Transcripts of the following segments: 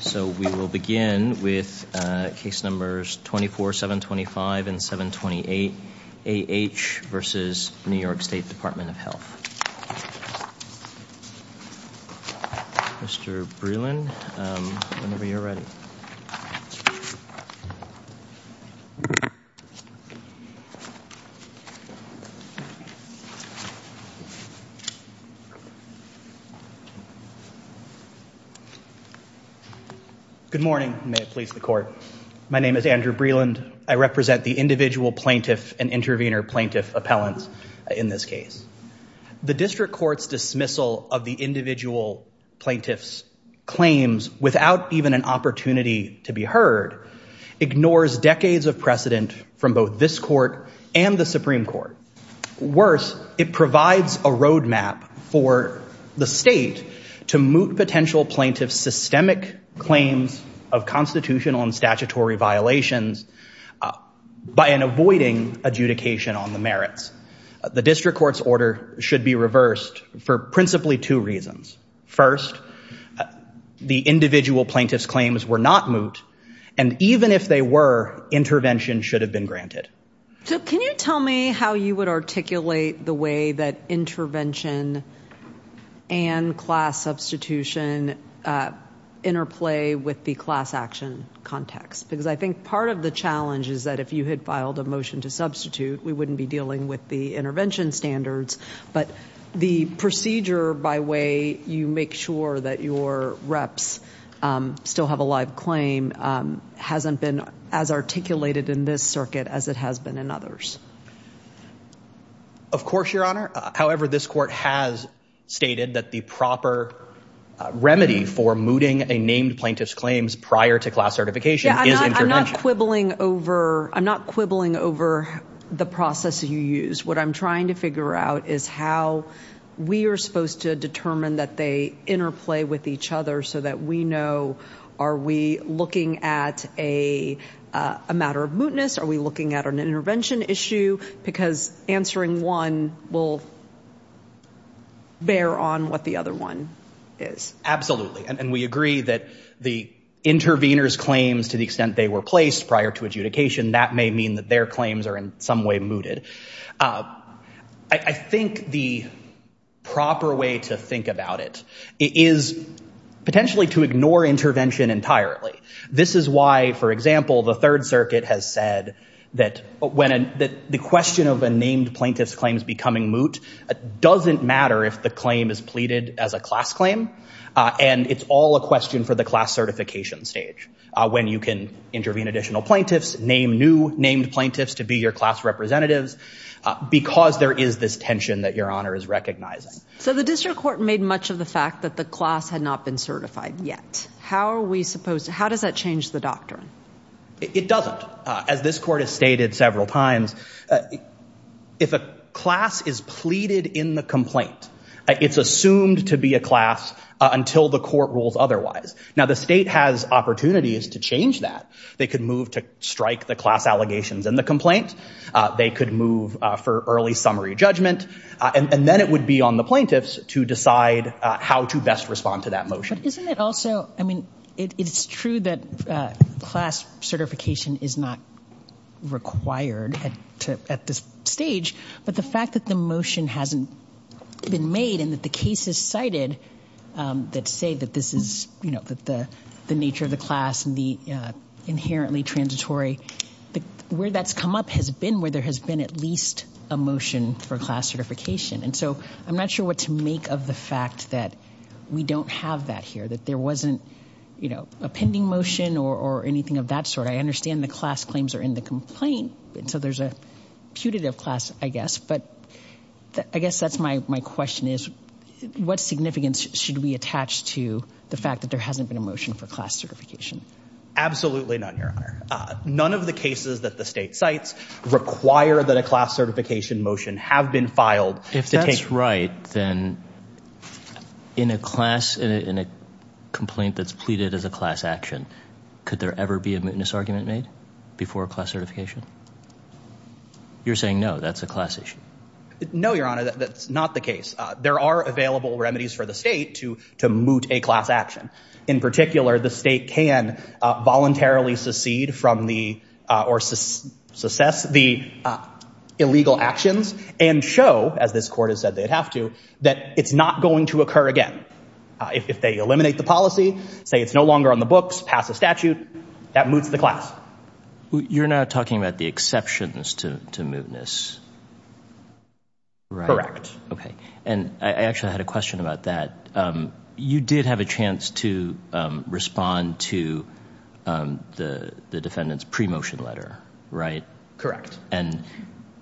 So we will begin with case numbers 24, 725, and 728, A.H. v. New York State Department of Health. Mr. Breland, whenever you're ready. Good morning, and may it please the court. My name is Andrew Breland. I represent the individual plaintiff and intervener plaintiff appellants in this case. The district court's dismissal of the individual plaintiff's claims without even an opportunity to be heard ignores decades of precedent from both this court and the Supreme Court. Worse, it provides a roadmap for the state to moot potential plaintiff's systemic claims of constitutional and statutory violations by an avoiding adjudication on the merits. The district court's order should be reversed for principally two reasons. First, the individual plaintiff's claims were not moot, and even if they were, intervention should have been granted. So can you tell me how you would articulate the way that intervention and class substitution interplay with the class action context? Because I think part of the challenge is that if you had filed a motion to substitute, we wouldn't be dealing with the intervention standards. But the procedure by way you make sure that your reps still have a live claim hasn't been as articulated in this circuit as it has been in others. Of course, Your Honor. However, this court has stated that the proper remedy for mooting a named plaintiff's claims prior to class certification is intervention. Yeah, I'm not quibbling over the process you use. What I'm trying to figure out is how we are supposed to determine that they interplay with each other so that we know, are we looking at a matter of mootness? Are we looking at an intervention issue? Because answering one will bear on what the other one is. And we agree that the intervener's claims, to the extent they were placed prior to adjudication, that may mean that their claims are in some way mooted. I think the proper way to think about it is potentially to ignore intervention entirely. This is why, for example, the Third Circuit has said that the question of a named plaintiff's claims becoming moot doesn't matter if the claim is pleaded as a class claim. And it's all a question for the class certification stage, when you can intervene additional plaintiffs, name new named plaintiffs to be your class representatives, because there is this tension that Your Honor is recognizing. So the district court made much of the fact that the class had not been certified yet. How are we supposed to, how does that change the doctrine? It doesn't. As this court has stated several times, if a class is pleaded in the complaint, it's assumed to be a class until the court rules otherwise. Now, the state has opportunities to change that. They could move to strike the class allegations in the complaint. They could move for early summary judgment. And then it would be on the plaintiffs to decide how to best respond to that motion. But isn't it also, I mean, it's true that class certification is not required at this stage. But the fact that the motion hasn't been made and that the cases cited that say that this is the nature of the class and the inherently transitory, where that's come up has been where there has been at least a motion for class certification. And so I'm not sure what to make of the fact that we don't have that here, that there wasn't a pending motion or anything of that sort. I understand the class claims are in the complaint. So there's a putative class, I guess. But I guess that's my question, is what significance should we attach to the fact that there hasn't been a motion for class certification? Absolutely none, Your Honor. None of the cases that the state cites require that a class certification motion have been filed. If that's right, then in a class, in a complaint that's pleaded as a class action, could there ever be a mootness argument made before a class certification? You're saying no, that's a class issue. No, Your Honor, that's not the case. There are available remedies for the state to moot a class action. In particular, the state can voluntarily secede from the, or cess the illegal actions and show, as this court has said they'd have to, that it's not going to occur again. If they eliminate the policy, say it's no longer on the books, pass a statute, that moots the class. You're now talking about the exceptions to mootness, right? OK. And I actually had a question about that. You did have a chance to respond to the defendant's pre-motion letter, right? Correct. And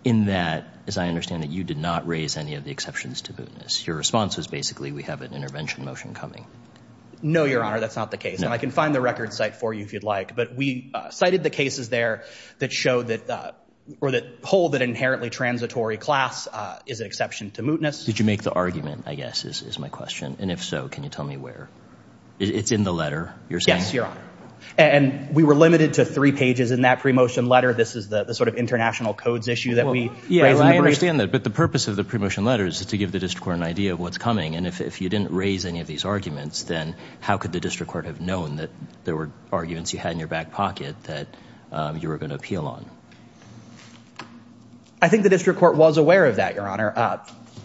in that, as I understand it, you did not raise any of the exceptions to mootness. Your response was basically, we have an intervention motion coming. No, Your Honor, that's not the case. And I can find the record site for you if you'd like. But we cited the cases there that show that, or that hold that inherently transitory class is an exception to mootness. Did you make the argument, I guess, is my question. And if so, can you tell me where? It's in the letter, you're saying? Yes, Your Honor. And we were limited to three pages in that pre-motion letter. This is the sort of international codes issue that we raised in the brief. Yeah, I understand that. But the purpose of the pre-motion letter is to give the district court an idea of what's coming. And if you didn't raise any of these arguments, then how could the district court have known that there were arguments you had in your back pocket that you were going to appeal on? I think the district court was aware of that, Your Honor,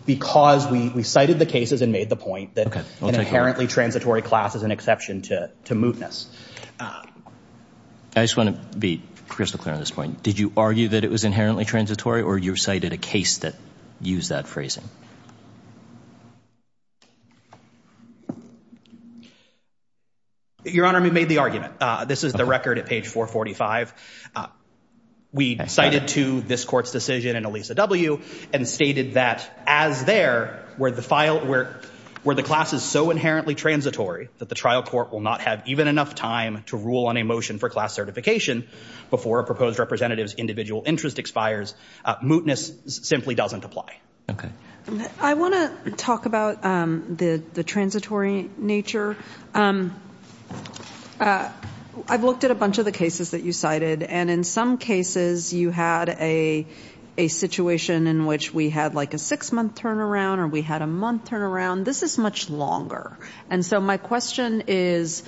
because we cited the cases and made the point that an inherently transitory class is an exception to mootness. I just want to be crystal clear on this point. Did you argue that it was inherently transitory, or you cited a case that used that phrasing? Your Honor, we made the argument. This is the record at page 445. We cited to this court's decision in Elisa W. and stated that, as there, were the classes so inherently transitory that the trial court will not have even enough time to rule on a motion for class certification before a proposed representative's individual interest expires. Mootness simply doesn't apply. I want to talk about the transitory nature. I've looked at a bunch of the cases that you cited. And in some cases, you had a situation in which we had a six-month turnaround or we had a month turnaround. This is much longer. And so my question is,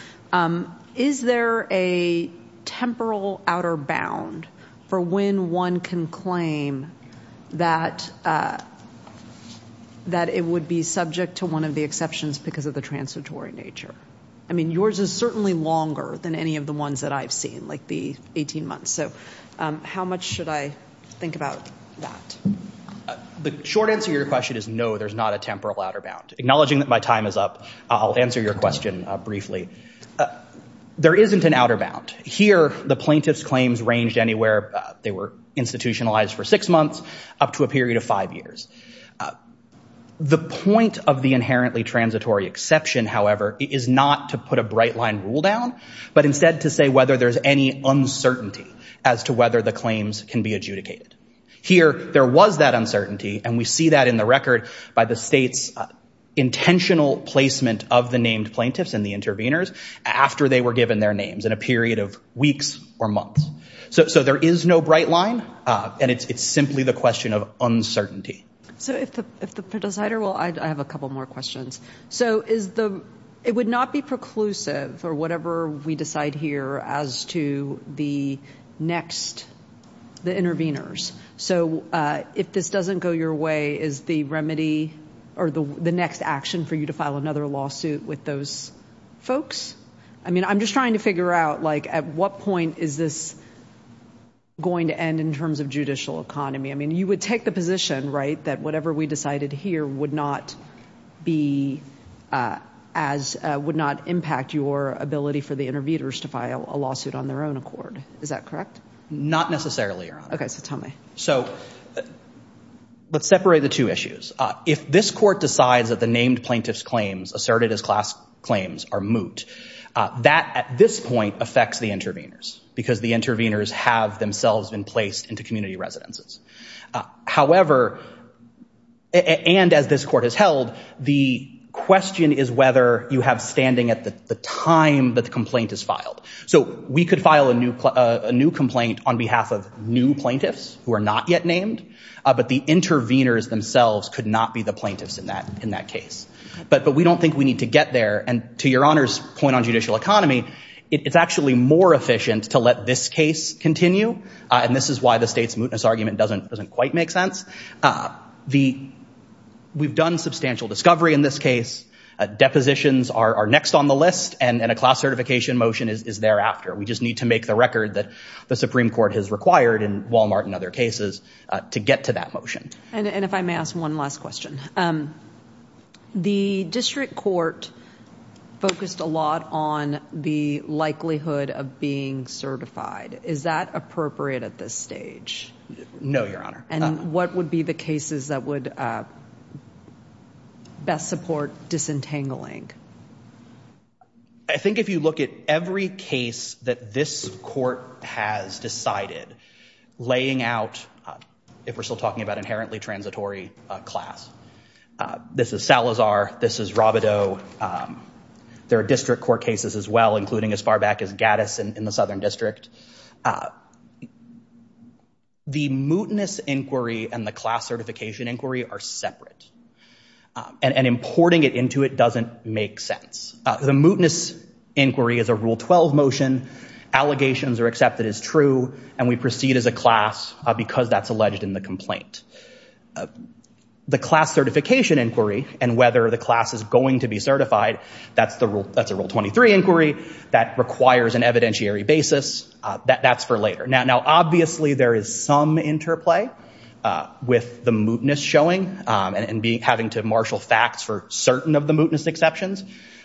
is there a temporal outer bound for when one can claim that it would be subject to one of the exceptions because of the transitory nature? I mean, yours is certainly longer than any of the ones that I've seen, like the 18 months. So how much should I think about that? The short answer to your question is no, there's not a temporal outer bound. Acknowledging that my time is up, I'll answer your question briefly. There isn't an outer bound. Here, the plaintiff's claims ranged anywhere. They were institutionalized for six months, up to a period of five years. The point of the inherently transitory exception, however, is not to put a bright line rule down, but instead to say whether there's any uncertainty as to whether the claims can be adjudicated. Here, there was that uncertainty. And we see that in the record by the state's intentional placement of the named plaintiffs and the intervenors after they were given their names in a period of weeks or months. So there is no bright line. And it's simply the question of uncertainty. So if the presider will, I have a couple more questions. So it would not be preclusive, or whatever we decide here, as to the next, the intervenors. So if this doesn't go your way, is the remedy, or the next action for you to file another lawsuit with those folks? I mean, I'm just trying to figure out, like, at what point is this going to end in terms of judicial economy? I mean, you would take the position, right, that whatever we decided here would not be as, would not impact your ability for the intervenors to file a lawsuit on their own accord. Is that correct? Not necessarily, Your Honor. OK, so tell me. So let's separate the two issues. If this court decides that the named plaintiff's claims asserted as class claims are moot, that, at this point, affects the intervenors. Because the intervenors have themselves been placed into community residences. However, and as this court has held, the question is whether you have standing at the time that the complaint is filed. So we could file a new complaint on behalf of new plaintiffs who are not yet named, but the intervenors themselves could not be the plaintiffs in that case. But we don't think we need to get there. And to Your Honor's point on judicial economy, it's actually more efficient to let this case continue. And this is why the state's mootness argument doesn't quite make sense. We've done substantial discovery in this case. Depositions are next on the list. And a class certification motion is thereafter. We just need to make the record that the Supreme Court has required in Walmart and other cases to get to that motion. And if I may ask one last question. The district court focused a lot on the likelihood of being certified. Is that appropriate at this stage? No, Your Honor. And what would be the cases that would best support disentangling? I think if you look at every case that this court has decided, laying out, if we're still talking about inherently transitory class. This is Salazar. This is Rabideau. There are district court cases as well, including as far back as Gaddis in the Southern District. The mootness inquiry and the class certification inquiry are separate. And importing it into it doesn't make sense. The mootness inquiry is a Rule 12 motion. Allegations are accepted as true. And we proceed as a class because that's alleged in the complaint. The class certification inquiry and whether the class is going to be certified, that's a Rule 23 inquiry that requires an evidentiary basis. That's for later. Now, obviously, there is some interplay with the mootness showing and having to marshal facts for certain of the mootness exceptions,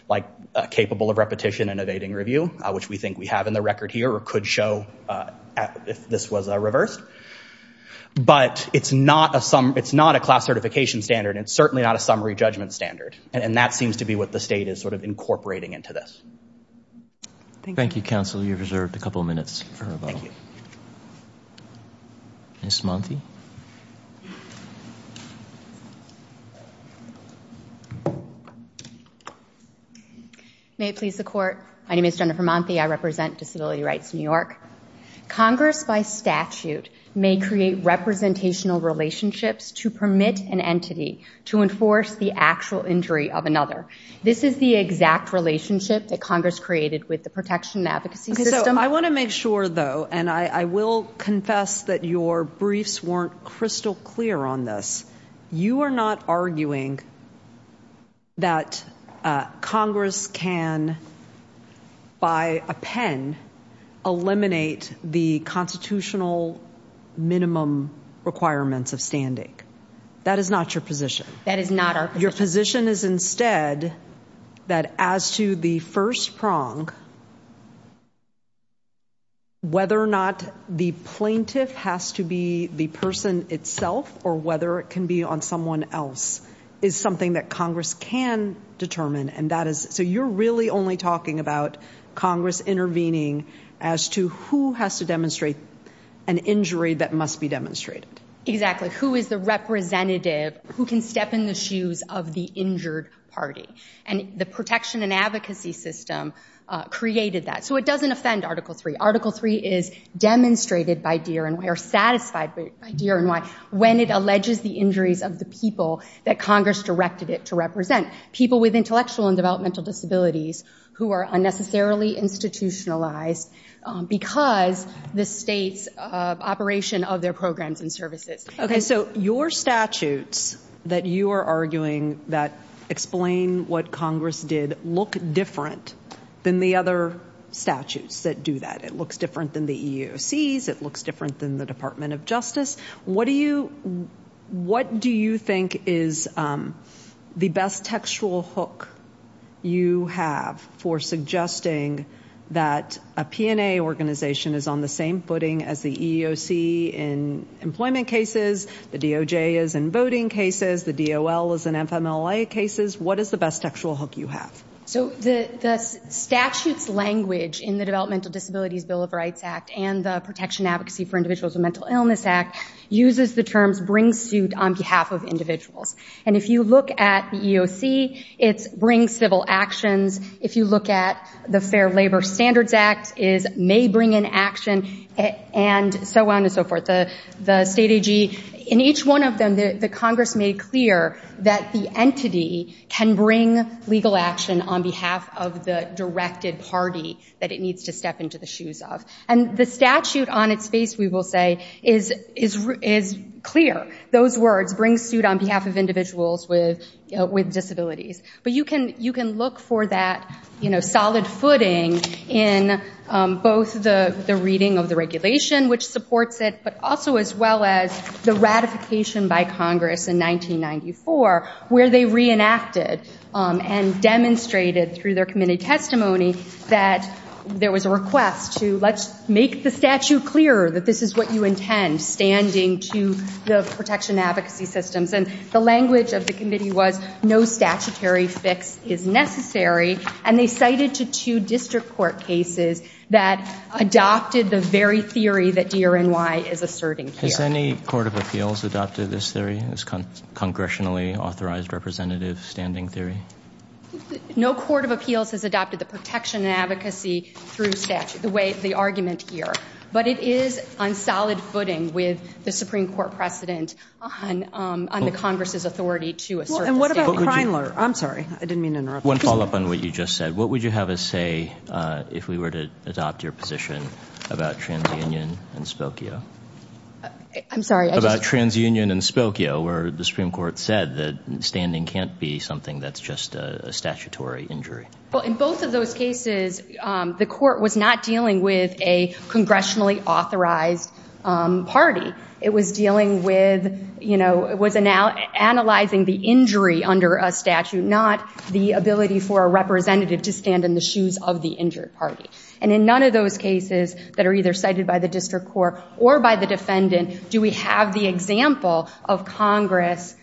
like capable of repetition and evading review, which we think we have in the record here or could show if this was reversed. But it's not a class certification standard. It's certainly not a summary judgment standard. And that seems to be what the state is sort of incorporating into this. Thank you, counsel. You've reserved a couple of minutes for rebuttal. Ms. Monty? May it please the Court. My name is Jennifer Monty. I represent Disability Rights New York. Congress, by statute, may create representational relationships to permit an entity to enforce the actual injury of another. This is the exact relationship that Congress created with the Protection Advocacy System. I want to make sure, though, and I will confess that your briefs weren't crystal clear on this. You are not arguing that Congress can, by a pen, eliminate the constitutional minimum requirements of standing. That is not your position. That is not our position. Your position is instead that as to the first prong, whether or not the plaintiff has to be the person itself or whether it can be on someone else is something that Congress can determine. And that is, so you're really only talking about Congress intervening as to who has to demonstrate an injury that must be demonstrated. Exactly. Who is the representative who can step in the shoes of the injured party? And the Protection and Advocacy System created that. So it doesn't offend Article III. Article III is demonstrated by, dear, or satisfied by, dear, and why, when it alleges the injuries of the people that Congress directed it to represent, people with intellectual and developmental disabilities who are unnecessarily institutionalized because the state's operation of their programs and services. OK, so your statutes that you are arguing that explain what Congress did look different than the other statutes that do that. It looks different than the EEOC's. It looks different than the Department of Justice. What do you think is the best textual hook you have for suggesting that a P&A organization is on the same footing as the EEOC in employment cases, the DOJ is in voting cases, the DOL is in FMLA cases? What is the best textual hook you have? So the statute's language in the Developmental Disabilities Bill of Rights Act and the Protection Advocacy for Individuals with Mental Illness Act uses the terms bring suit on behalf of individuals. And if you look at the EEOC, it's bring civil actions. If you look at the Fair Labor Standards Act, it's may bring in action, and so on and so forth. The state AG, in each one of them, the Congress made clear that the entity can bring legal action on behalf of the directed party that it is to step into the shoes of. And the statute on its face, we will say, is clear, those words, bring suit on behalf of individuals with disabilities. But you can look for that solid footing in both the reading of the regulation, which supports it, but also as well as the ratification by Congress in 1994, where they reenacted and demonstrated through their committee testimony that there was a request to, let's make the statute clear that this is what you intend, standing to the protection advocacy systems. And the language of the committee was, no statutory fix is necessary. And they cited to two district court cases that adopted the very theory that DRNY is asserting here. Has any court of appeals adopted this theory, this congressionally authorized representative standing theory? No court of appeals has adopted the protection and advocacy through statute, the way the argument here. But it is on solid footing with the Supreme Court precedent on the Congress's authority to assert the standing. And what about Kreinler? I'm sorry, I didn't mean to interrupt. One follow up on what you just said. What would you have us say if we were to adopt your position about TransUnion and Spokio? I'm sorry. About TransUnion and Spokio, where the Supreme Court said that standing can't be something that's just a statutory injury. Well, in both of those cases, the court was not dealing with a congressionally authorized party. It was dealing with analyzing the injury under a statute, not the ability for a representative to stand in the shoes of the injured party. And in none of those cases that are either cited by the district court or by the defendant do we have the example of Congress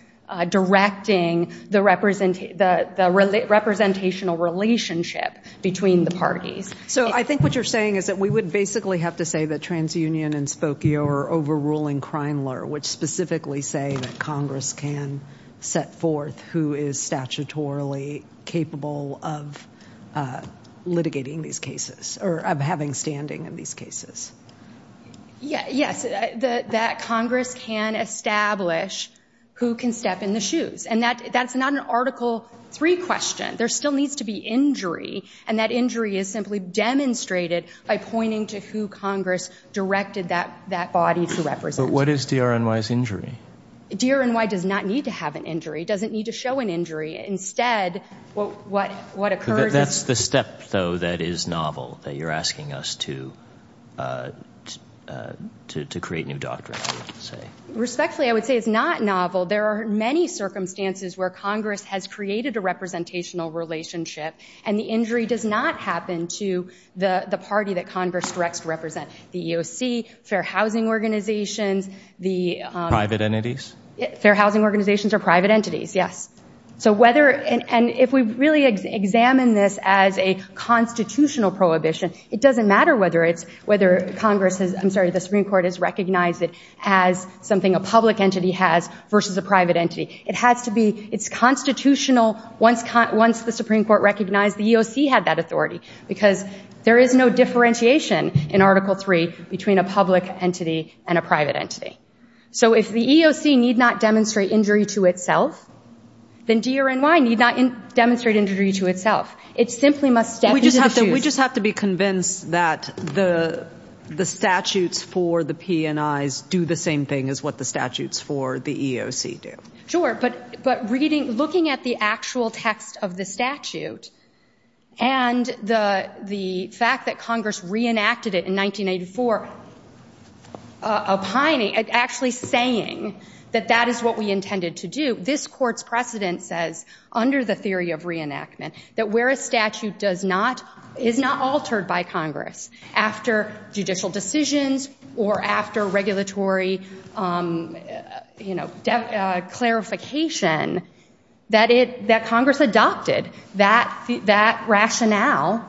directing the representational relationship between the parties. So I think what you're saying is that we would basically have to say that TransUnion and Spokio are overruling Kreinler, which specifically say that Congress can set forth who is statutorily capable of litigating these cases, or of having standing in these cases. Yes. That Congress can establish who can step in the shoes. And that's not an Article III question. There still needs to be injury, and that injury is simply demonstrated by pointing to who Congress directed that body to represent. But what is DRNY's injury? DRNY does not need to have an injury, doesn't need to show an injury. Instead, what occurs is- That's the step, though, that is novel, that you're asking us to create new doctrine, I would say. Respectfully, I would say it's not novel. There are many circumstances where Congress has created a representational relationship, and the injury does not happen to the party that Congress directs to represent. The EOC, fair housing organizations, the- Private entities? Fair housing organizations or private entities, yes. So whether, and if we really examine this as a constitutional prohibition, it doesn't matter whether Congress has, I'm sorry, the Supreme Court has recognized it as something a public entity has versus a private entity. It has to be, it's constitutional. Once the Supreme Court recognized, the EOC had that authority. Because there is no differentiation in Article III between a public entity and a private entity. So if the EOC need not demonstrate injury to itself, then DRNY need not demonstrate injury to itself. It simply must step into the shoes. We just have to be convinced that the statutes for the P&Is do the same thing as what the statutes for the EOC do. Sure, but reading, looking at the actual text of the statute, and the fact that Congress reenacted it in 1984, actually saying that that is what we intended to do. This court's precedent says, under the theory of reenactment, that where a statute is not altered by Congress after judicial decisions or after regulatory clarification, that Congress adopted that rationale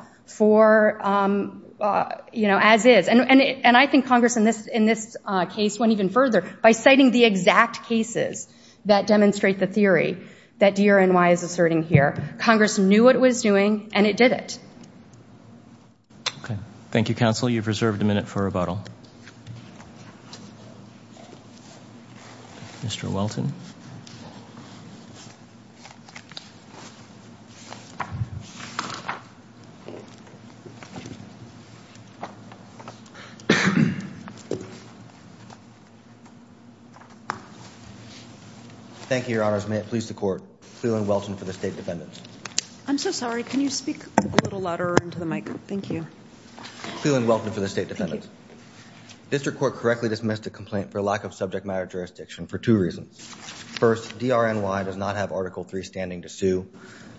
as is. And I think Congress, in this case, went even further by citing the exact cases that demonstrate the theory that DRNY is asserting here. Congress knew what it was doing, and it did it. Thank you, counsel. You've reserved a minute for rebuttal. Mr. Welton. Thank you, Your Honors. May it please the Court, Cleland Welton for the State Defendants. I'm so sorry. Can you speak a little louder into the mic? Thank you. Cleland Welton for the State Defendants. District Court correctly dismissed a complaint for lack of subject matter jurisdiction for two reasons. First, DRNY does not have Article III standing to sue.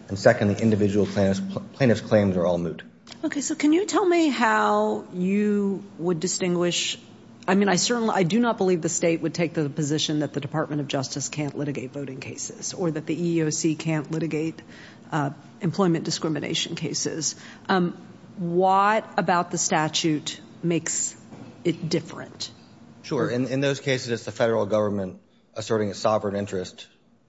And second, the individual plaintiff's claims are all moot. OK, so can you tell me how you would distinguish? I mean, I do not believe the state would take the position that the Department of Justice can't litigate voting cases, or that the EEOC can't litigate employment discrimination cases. What about the statute makes it different? Sure, in those cases, it's the federal government asserting a sovereign interest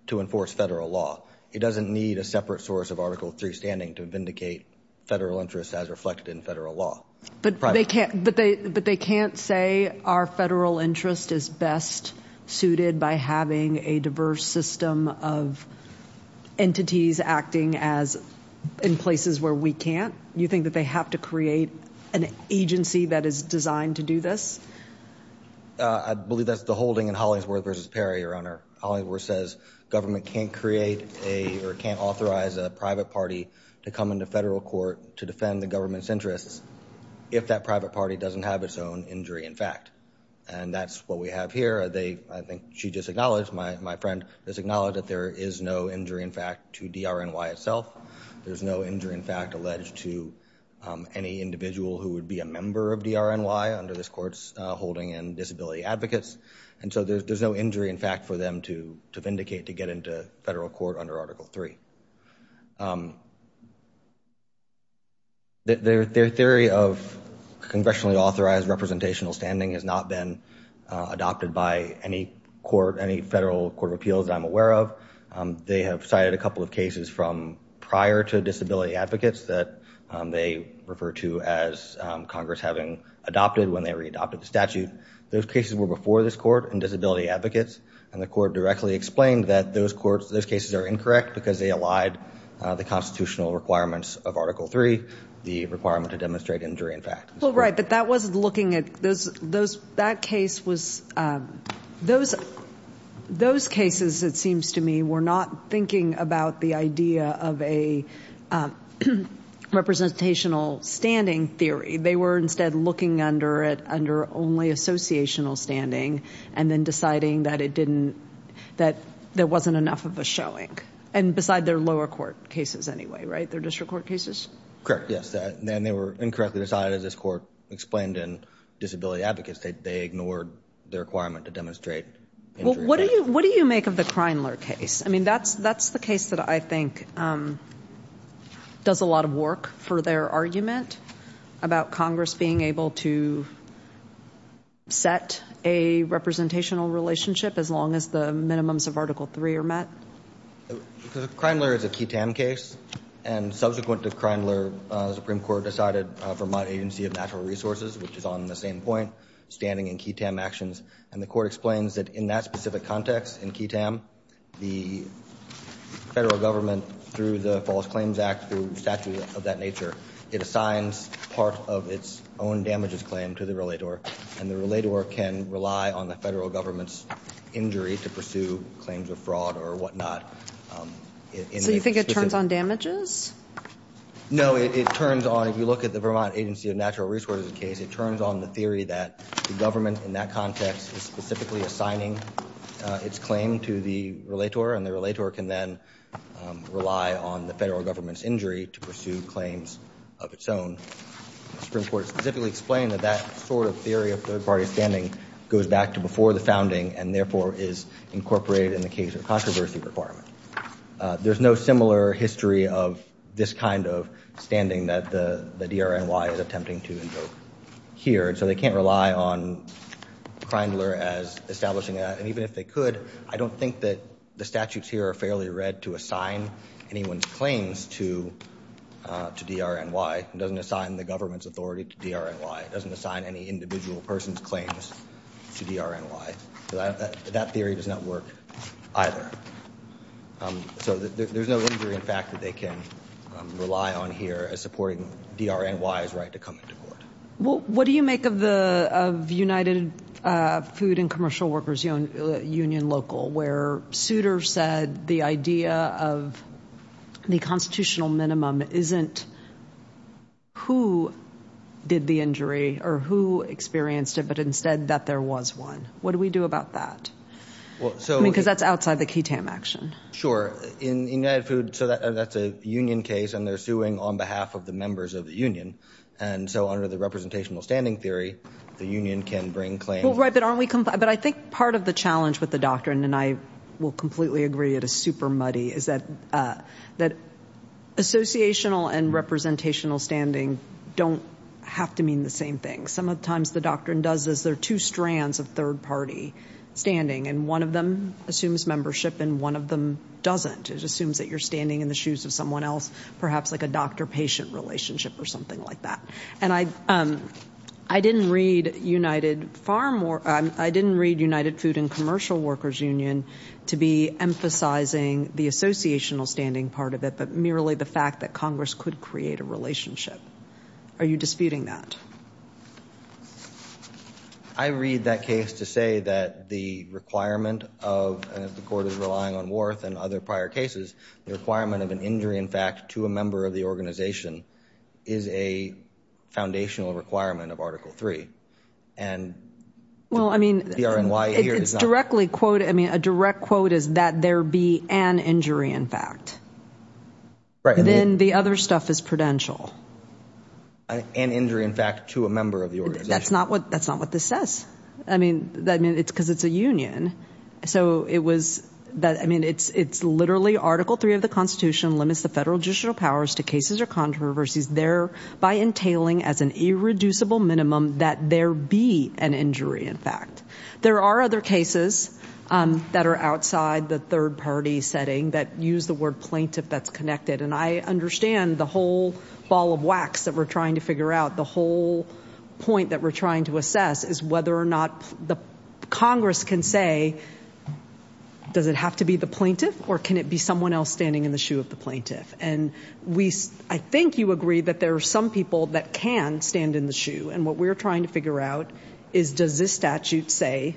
to enforce federal law. It doesn't need a separate source of Article III standing to vindicate federal interests as reflected in federal law. But they can't say our federal interest is best suited by having a diverse system of entities acting as in places where we can't. You think that they have to create an agency that is designed to do this? I believe that's the holding in Hollingsworth versus Perry, Hollingsworth says government can't create a, or can't authorize a private party to come into federal court to defend the government's interests if that private party doesn't have its own injury in fact. And that's what we have here. I think she just acknowledged, my friend just acknowledged that there is no injury in fact to DRNY itself. There's no injury in fact alleged to any individual who would be a member of DRNY under this court's holding in disability advocates. And so there's no injury in fact for them to vindicate to get into federal court under Article III. Their theory of congressionally authorized representational standing has not been adopted by any court, any federal court of appeals that I'm aware of. They have cited a couple of cases from prior to disability advocates that they refer to as Congress having adopted when they re-adopted the statute. Those cases were before this court in disability advocates. And the court directly explained that those cases are incorrect because they allied the constitutional requirements of Article III, the requirement to demonstrate injury in fact. Well, right, but that wasn't looking at those, that case was, those cases it seems to me were not thinking about the idea of a representational standing theory. They were instead looking under it under only associational standing and then deciding that it didn't, that there wasn't enough of a showing. And beside their lower court cases anyway, right? Their district court cases? Correct, yes. And then they were incorrectly decided as this court explained in disability advocates that they ignored the requirement to demonstrate injury in fact. What do you make of the Kreinler case? I mean, that's the case that I think does a lot of work for their argument about Congress being able to set a representational relationship as long as the minimums of Article III are met. Kreinler is a ketamine case. And subsequent to Kreinler, the Supreme Court decided for my agency of natural resources, which is on the same point, standing in ketamine actions. And the court explains that in that specific context in ketamine, the federal government through the False Claims Act, through statute of that nature, it assigns part of its own damages claim to the relator. And the relator can rely on the federal government's injury to pursue claims of fraud or whatnot. So you think it turns on damages? No, it turns on, if you look at the Vermont Agency of Natural Resources case, it turns on the theory that the government in that context is specifically assigning its claim to the relator. And the relator can then rely on the federal government's injury to pursue claims of its own. The Supreme Court specifically explained that that sort of theory of third party standing goes back to before the founding and therefore is incorporated in the case of controversy requirement. There's no similar history of this kind of standing that the DRNY is attempting to invoke here. And so they can't rely on Kreinler as establishing that. And even if they could, I don't think that the statutes here are fairly read to assign anyone's claims to DRNY. It doesn't assign the government's authority to DRNY. It doesn't assign any individual person's claims to DRNY. That theory does not work either. So there's no injury in fact that they can rely on here as supporting DRNY's right to come into court. Well, what do you make of the United Food and Commercial Workers Union local, where Souter said the idea of the constitutional minimum isn't who did the injury or who experienced it, but instead that there was one. What do we do about that? Because that's outside the KTAM action. In United Food, that's a union case. And they're suing on behalf of the members of the union. And so under the representational standing theory, the union can bring claims. Right, but aren't we comply? But I think part of the challenge with the doctrine, and I will completely agree it is super muddy, is that associational and representational standing don't have to mean the same thing. Some of the times the doctrine does is there are two strands of third party standing. And one of them assumes membership, and one of them doesn't. It assumes that you're standing in the shoes of someone else, perhaps like a doctor-patient relationship or something like that. And I didn't read United Farm or I didn't read United Food and Commercial Workers Union to be emphasizing the associational standing part of it, but merely the fact that Congress could create a relationship. Are you disputing that? I read that case to say that the requirement of, and if the court is relying on Warth and other prior cases, the requirement of an injury in fact to a member of the organization is a foundational requirement of Article 3. And the RNYA here is not. I mean, a direct quote is that there be an injury in fact. Then the other stuff is prudential. An injury in fact to a member of the organization. That's not what this says. I mean, it's because it's a union. So it was that, I mean, it's literally Article 3 of the Constitution limits the federal judicial powers to cases or controversies there by entailing as an irreducible minimum that there be an injury in fact. There are other cases that are outside the third party setting that use the word plaintiff that's connected. And I understand the whole ball of wax that we're trying to figure out, the whole point that we're trying to assess is whether or not the Congress can say, does it have to be the plaintiff or can it be someone else standing in the shoe of the plaintiff? And I think you agree that there are some people that can stand in the shoe. And what we're trying to figure out is does this statute say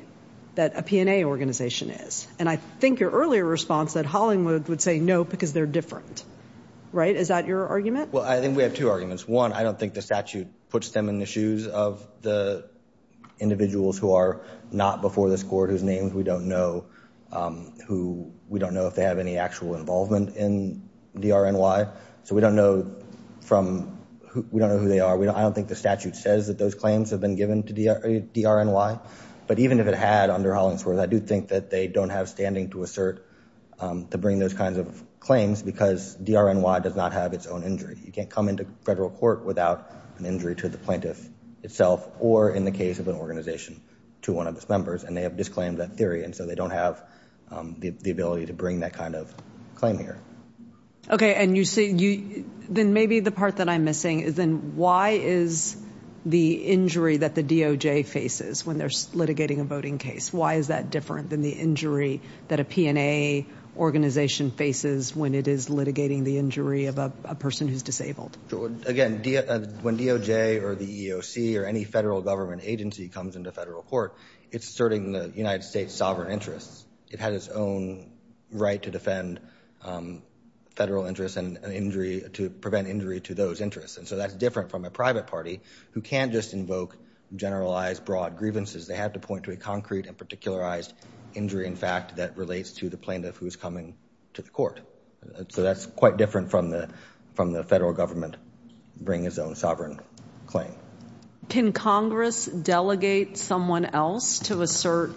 that a P&A organization is? And I think your earlier response that Hollingwood would say no because they're different, right? Is that your argument? Well, I think we have two arguments. One, I don't think the statute puts them in the shoes of the individuals who are not before this court whose names we don't know who we don't know if they have any actual involvement in DRNY. So we don't know who they are. I don't think the statute says that those claims have been given to DRNY. But even if it had under Hollingsworth, I do think that they don't have standing to assert to bring those kinds of claims because DRNY does not have its own injury. You can't come into federal court without an injury to the plaintiff itself or in the case of an organization to one of its members. And they have disclaimed that theory. And so they don't have the ability to bring that kind of claim here. OK, and you say you then maybe the part that I'm missing is then why is the injury that the DOJ faces when they're litigating a voting case? Why is that different than the injury that a P&A organization faces when it is litigating the injury of a person who's disabled? Again, when DOJ or the EEOC or any federal government agency comes into federal court, it's asserting the United States sovereign interests. It had its own right to defend federal interests and injury to prevent injury to those interests. And so that's different from a private party who can't just invoke generalized broad grievances. They have to point to a concrete and particularized injury, in fact, that relates to the plaintiff who is coming to the court. So that's quite different from the federal government bringing its own sovereign claim. Can Congress delegate someone else to assert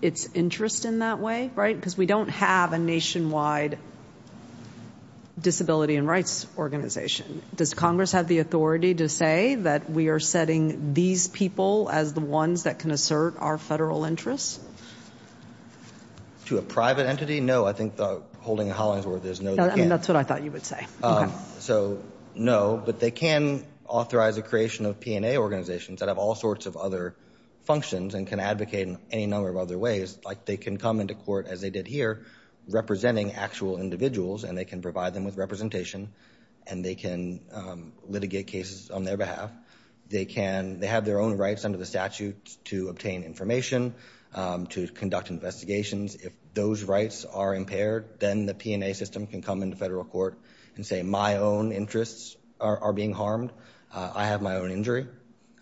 its interest in that way, right? Because we don't have a nationwide disability and rights organization. Does Congress have the authority to say that we are setting these people as the ones that can assert our federal interests? To a private entity, no. I think the holding of Hollingsworth is no. That's what I thought you would say. So no. But they can authorize the creation of P&A organizations that have all sorts of other functions and can advocate in any number of other ways. They can come into court, as they did here, representing actual individuals. And they can provide them with representation. And they can litigate cases on their behalf. They have their own rights under the statute to obtain information, to conduct investigations. If those rights are impaired, then the P&A system can come into federal court and say, my own interests are being harmed. I have my own injury.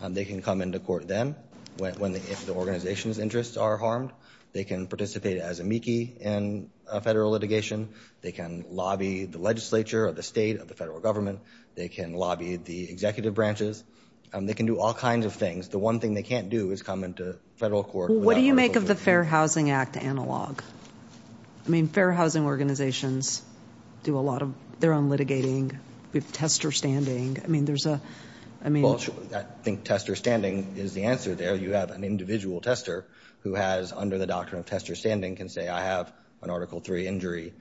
They can come into court then, if the organization's interests are harmed. They can participate as a MIECHE in a federal litigation. They can lobby the legislature or the state of the federal government. They can lobby the executive branches. They can do all kinds of things. The one thing they can't do is come into federal court without permission. What do you make of the Fair Housing Act analog? I mean, fair housing organizations do a lot of their own litigating. We have tester standing. I mean, there's a, I mean. Well, I think tester standing is the answer there. You have an individual tester who has, under the doctrine of tester standing, can say, I have an Article III injury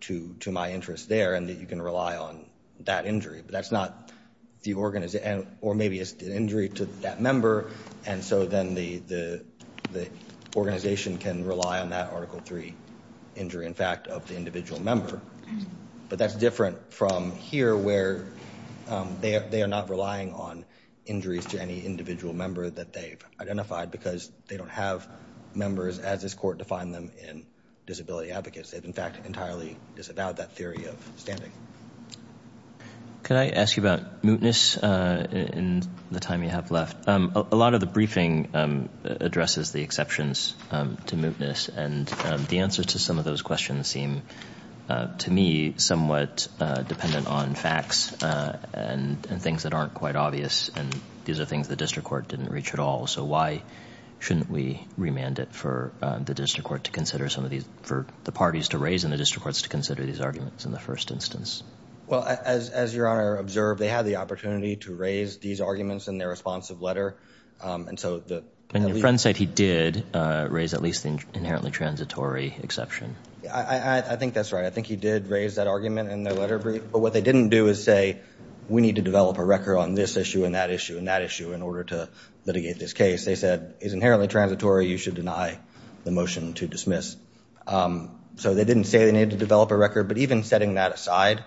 to my interest there. And that you can rely on that injury. But that's not the organization. Or maybe it's an injury to that member. And so then the organization can rely on that Article III injury, in fact, of the individual member. But that's different from here, where they are not relying on injuries to any individual member that they've identified. Because they don't have members, as this court defined them, in disability advocates. They've, in fact, entirely disavowed that theory of standing. Could I ask you about mootness in the time you have left? A lot of the briefing addresses the exceptions to mootness. And the answer to some of those questions seem, to me, somewhat dependent on facts and things that aren't quite obvious. And these are things the district court didn't reach at all. So why shouldn't we remand it for the district court to consider some of these, for the parties to raise and the district courts to consider these arguments in the first instance? Well, as Your Honor observed, they had the opportunity to raise these arguments in their responsive letter. And so the leadership. And your friend said he did raise at least the inherently transitory exception. I think that's right. I think he did raise that argument in their letter brief. But what they didn't do is say, we need to develop a record on this issue and that issue and that issue in order to litigate this case. They said, it's inherently transitory. You should deny the motion to dismiss. So they didn't say they needed to develop a record. But even setting that aside,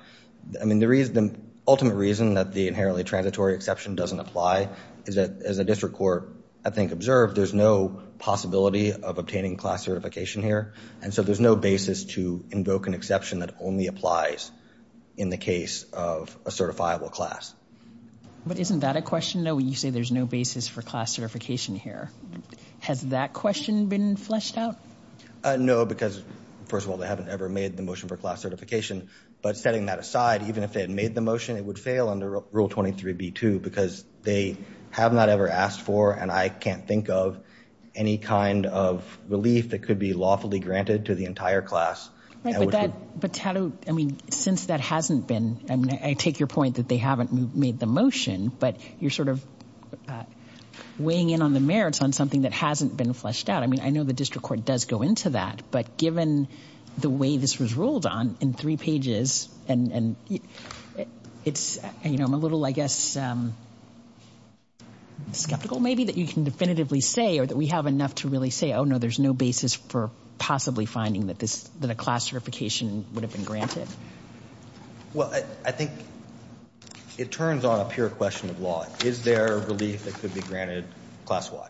I mean, the ultimate reason that the inherently transitory exception doesn't apply is that, as the district court, I think, observed, there's no possibility of obtaining class certification here. And so there's no basis to invoke an exception that only applies in the case of a certifiable class. But isn't that a question, though? You say there's no basis for class certification here. Has that question been fleshed out? No, because first of all, they haven't ever made the motion for class certification. But setting that aside, even if they had made the motion, it would fail under Rule 23b2. They have not ever asked for, and I can't think of, any kind of relief that could be lawfully granted to the entire class. But since that hasn't been, I take your point that they haven't made the motion, but you're sort of weighing in on the merits on something that hasn't been fleshed out. I know the district court does go into that. But given the way this was ruled on in three pages, and I'm a little, I guess, skeptical, maybe, that you can definitively say, or that we have enough to really say, oh, no, there's no basis for possibly finding that a class certification would have been granted. Well, I think it turns on a pure question of law. Is there relief that could be granted class-wide?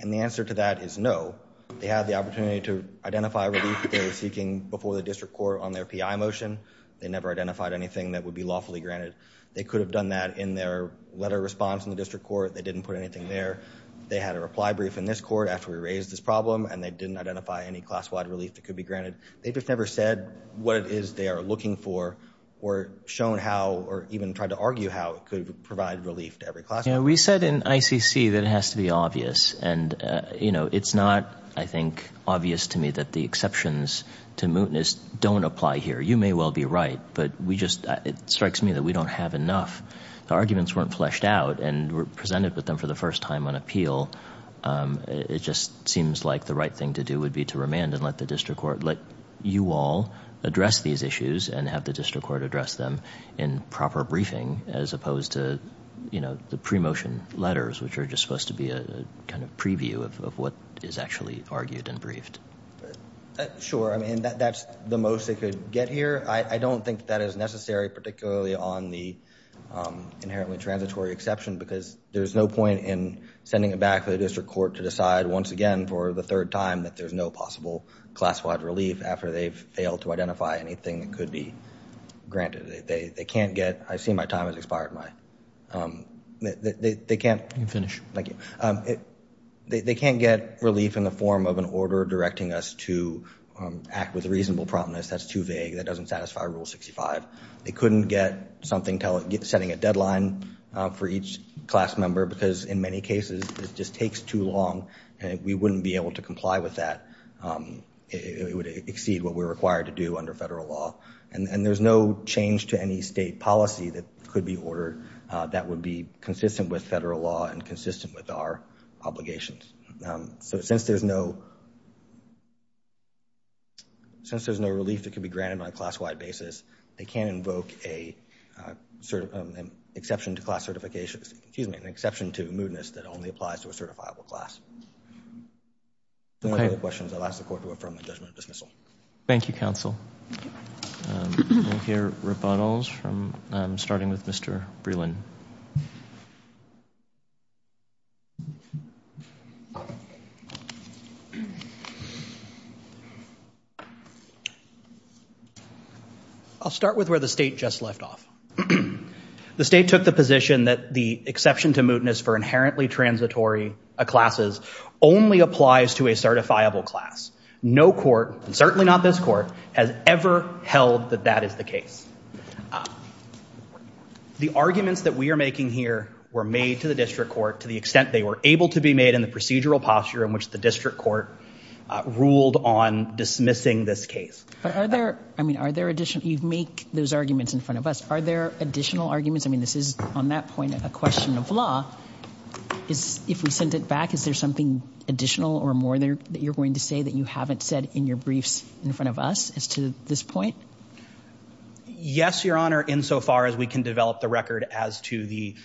And the answer to that is no. They had the opportunity to identify relief they were seeking before the district court on their PI motion. They never identified anything that would be lawfully granted. They could have done that in their letter response in the district court. They didn't put anything there. They had a reply brief in this court after we raised this problem. And they didn't identify any class-wide relief that could be granted. They just never said what it is they are looking for, or shown how, or even tried to argue how it could provide relief to every class. We said in ICC that it has to be obvious. And it's not, I think, obvious to me that the exceptions to mootness don't apply here. You may well be right. But we just, it strikes me that we don't have enough. The arguments weren't fleshed out and were presented with them for the first time on appeal. It just seems like the right thing to do would be to remand and let the district court, let you all address these issues and have the district court address them in proper briefing, as opposed to the pre-motion letters, which are just supposed to be a kind of preview of what is actually argued and briefed. Sure, I mean, that's the most they could get here. I don't think that is necessary, particularly on the inherently transitory exception, because there's no point in sending it back to the district court to decide, once again, for the third time that there's no possible class-wide relief after they've failed to identify anything that could be granted. They can't get, I see my time has expired, my, they can't. You can finish. Thank you. They can't get relief in the form of an order directing us to act with reasonable prominence. That's too vague. That doesn't satisfy Rule 65. They couldn't get something telling, setting a deadline for each class member, because in many cases, it just takes too long and we wouldn't be able to comply with that. It would exceed what we're required to do under federal law. And there's no change to any state policy that could be ordered that would be consistent with federal law and consistent with our obligations. So since there's no relief that could be granted on a class-wide basis, they can't invoke an exception to class certification, excuse me, an exception to mootness that only applies to a certifiable class. If there are no other questions, I'll ask the court to affirm the judgment of dismissal. Thank you, counsel. We'll hear rebuttals from, starting with Mr. Breland. Thank you. I'll start with where the state just left off. The state took the position that the exception to mootness for inherently transitory classes only applies to a certifiable class. No court, and certainly not this court, has ever held that that is the case. The arguments that we are making here were made to the district court to the extent they were able to be made in the procedural posture in which the district court ruled on dismissing this case. But are there, I mean, are there additional, you make those arguments in front of us. Are there additional arguments? I mean, this is, on that point, a question of law. If we send it back, is there something additional or more that you're going to say that you haven't said in your briefs in front of us as to this point? Yes, Your Honor, insofar as we can develop the record as to the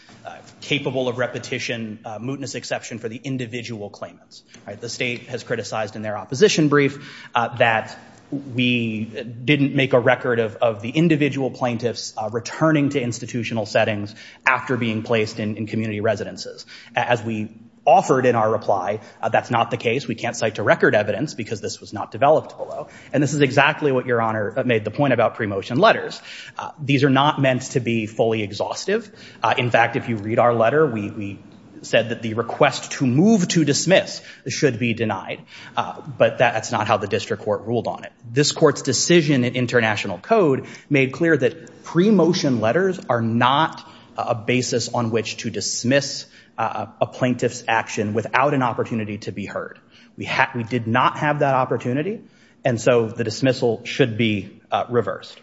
capable of repetition mootness exception for the individual claimants. The state has criticized in their opposition brief that we didn't make a record of the individual plaintiffs returning to institutional settings after being placed in community residences. As we offered in our reply, that's not the case. We can't cite to record evidence because this was not developed below. And this is exactly what Your Honor made the point about pre-motion letters. These are not meant to be fully exhaustive. In fact, if you read our letter, we said that the request to move to dismiss should be denied. But that's not how the district court ruled on it. This court's decision in international code made clear that pre-motion letters are not a basis on which to dismiss a plaintiff's action without an opportunity to be heard. We did not have that opportunity. And so the dismissal should be reversed.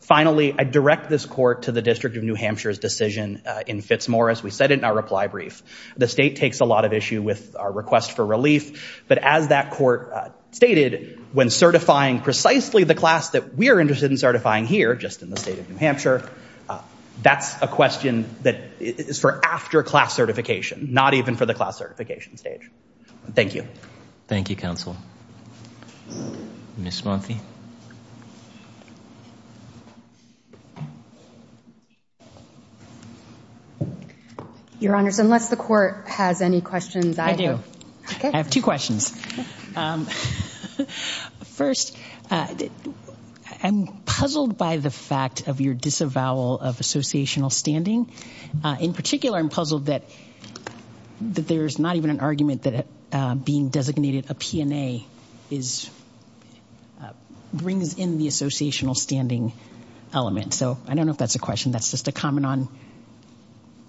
Finally, I direct this court to the District of New Hampshire's decision in Fitzmorris. We said it in our reply brief. The state takes a lot of issue with our request for relief. But as that court stated, when certifying precisely the class that we're interested in certifying here, just in the state of New Hampshire, that's a question that is for after class certification, not even for the class certification stage. Thank you. Thank you, counsel. Ms. Monfi? Your Honors, unless the court has any questions, I will. I have two questions. First, I'm puzzled by the fact of your disavowal of associational standing. In particular, I'm puzzled that there's not even an argument that being designated a P&A brings in the associational standing element. So I don't know if that's a question. That's just a comment on?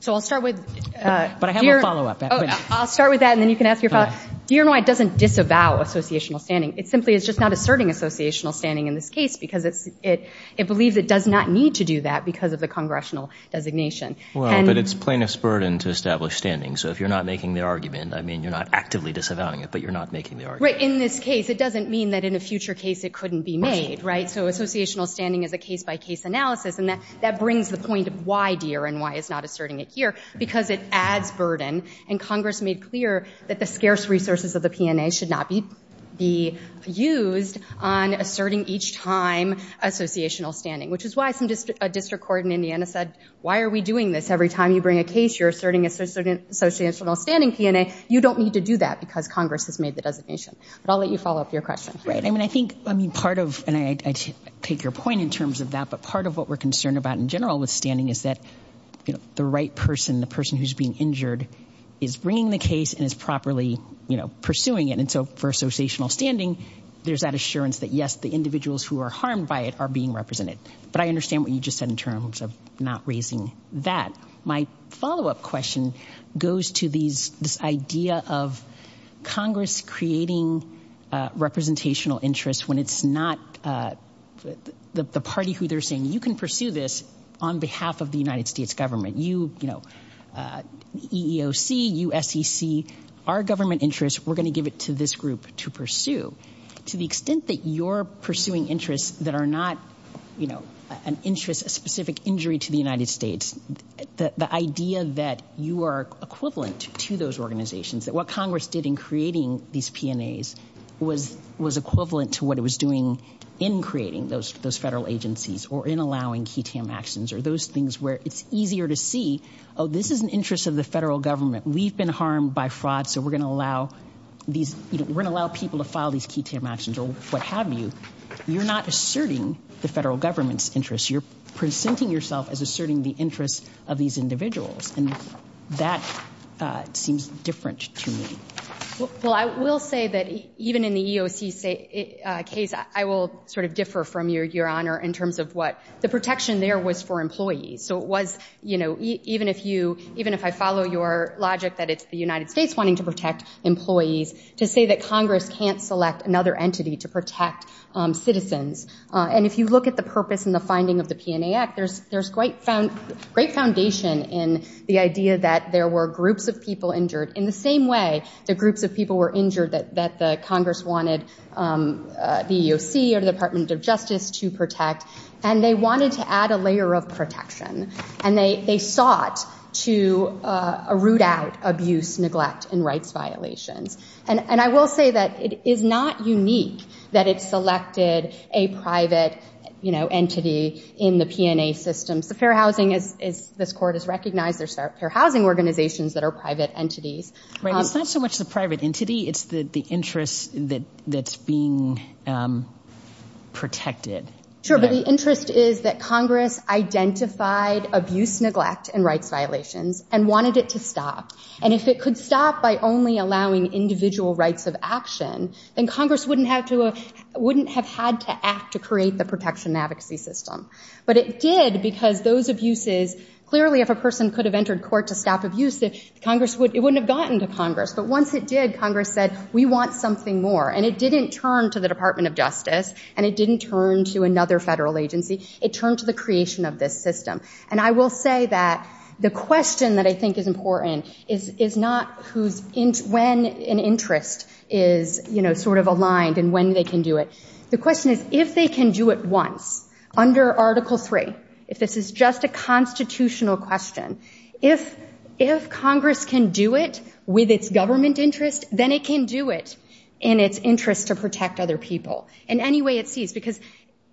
So I'll start with your- But I have a follow-up. I'll start with that, and then you can ask your follow-up. Do you know why it doesn't disavow associational standing? It simply is just not asserting associational standing in this case, because it believes it does not need to do that because of the congressional designation. Well, but it's plaintiff's burden to establish standing. So if you're not making the argument, you're not actively disavowing it, but you're not making the argument. Right, in this case, it doesn't mean that in a future case it couldn't be made, right? So associational standing is a case-by-case analysis, and that brings the point of why, dear, and why it's not asserting it here, because it adds burden, and Congress made clear that the scarce resources of the P&A should not be used on asserting each time associational standing, which is why a district court in Indiana said, why are we doing this? Every time you bring a case, you're asserting associational standing P&A. You don't need to do that because Congress has made the designation. But I'll let you follow up your question. Right, I mean, I think part of, and I take your point in terms of that, but part of what we're concerned about in general with standing is that the right person, the person who's being injured, is bringing the case and is properly pursuing it. And so for associational standing, there's that assurance that, yes, the individuals who are harmed by it are being represented. But I understand what you just said in terms of not raising that. My follow-up question goes to this idea of Congress creating representational interests when it's not the party who they're saying, you can pursue this on behalf of the United States government. You, you know, EEOC, USCC, our government interests, we're gonna give it to this group to pursue. To the extent that you're pursuing interests that are not, you know, an interest, a specific injury to the United States, the idea that you are equivalent to those organizations, that what Congress did in creating these PNAs was equivalent to what it was doing in creating those federal agencies or in allowing key TAM actions, or those things where it's easier to see, oh, this is an interest of the federal government. We've been harmed by fraud, so we're gonna allow these, we're gonna allow people to file these key TAM actions or what have you. You're not asserting the federal government's interests. You're presenting yourself as asserting the interests of these individuals, and that seems different to me. Well, I will say that even in the EEOC case, I will sort of differ from you, Your Honor, in terms of what the protection there was for employees. So it was, you know, even if you, even if I follow your logic that it's the United States wanting to protect employees, to say that Congress can't select another entity to protect citizens, and if you look at the purpose and the finding of the PNA Act, there's great foundation in the idea that there were groups of people injured in the same way that groups of people were injured that the Congress wanted the EEOC or the Department of Justice to protect, and they wanted to add a layer of protection, and they sought to root out abuse, neglect, and rights violations. And I will say that it is not unique that it selected a private, you know, entity in the PNA system. So fair housing, as this court has recognized, there's fair housing organizations that are private entities. Right, it's not so much the private entity, it's the interest that's being protected. Sure, but the interest is that Congress identified abuse, neglect, and rights violations and wanted it to stop. And if it could stop by only allowing individual rights of action, then Congress wouldn't have had to act to create the protection advocacy system. But it did because those abuses, clearly if a person could have entered court to stop abuse, it wouldn't have gotten to Congress. But once it did, Congress said, we want something more. And it didn't turn to the Department of Justice, and it didn't turn to another federal agency, it turned to the creation of this system. And I will say that the question that I think is important is not when an interest is sort of aligned and when they can do it. The question is, if they can do it once, under Article III, if this is just a constitutional question, if Congress can do it with its government interest, then it can do it in its interest to protect other people in any way it sees, because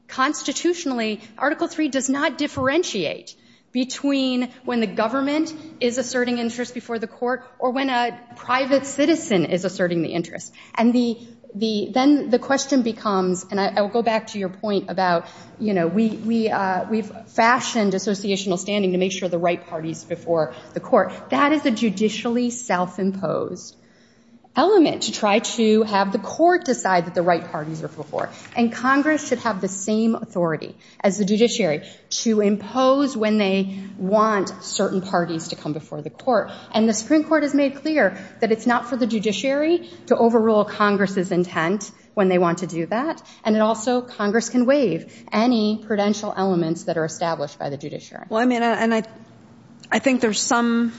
constitutionally, Article III does not differentiate between when the government is asserting interest before the court or when a private citizen is asserting the interest. And then the question becomes, and I will go back to your point about, we've fashioned associational standing to make sure the right party's before the court. That is a judicially self-imposed element to try to have the court decide that the right parties are before. And Congress should have the same authority as the judiciary to impose when they want certain parties to come before the court. And the Supreme Court has made clear that it's not for the judiciary to overrule Congress's intent when they want to do that. And it also, Congress can waive any prudential elements that are established by the judiciary. Well, I mean, and I think there's some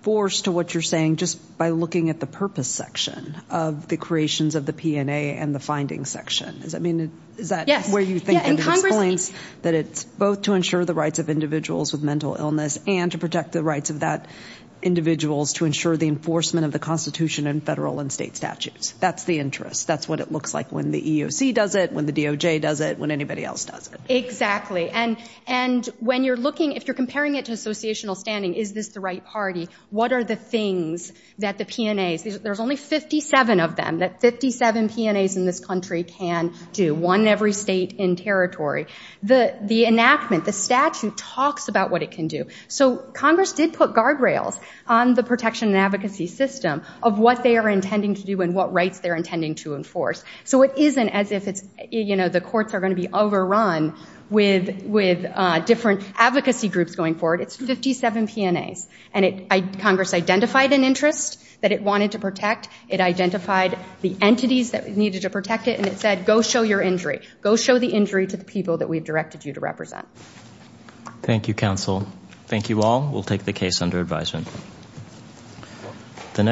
force to what you're saying just by looking at the purpose section of the creations of the P&A and the findings section. Is that where you think it explains that it's both to ensure the rights of individuals with mental illness and to protect the rights of that individuals to ensure the enforcement of the Constitution and federal and state statutes? That's the interest. That's what it looks like when the EOC does it, when the DOJ does it, when anybody else does it. Exactly. And when you're looking, if you're comparing it to associational standing, is this the right party? What are the things that the P&As, there's only 57 of them, that 57 P&As in this country can do, one in every state and territory. The enactment, the statute talks about what it can do. So Congress did put guardrails on the protection and advocacy system of what they are intending to do and what rights they're intending to enforce. So it isn't as if the courts are gonna be overrun with different advocacy groups going forward. It's 57 P&As and Congress identified an interest that it wanted to protect. It identified the entities that needed to protect it and it said, go show your injury. So I agree to the people that we've directed you to represent. Thank you, counsel. Thank you all. We'll take the case under advisement.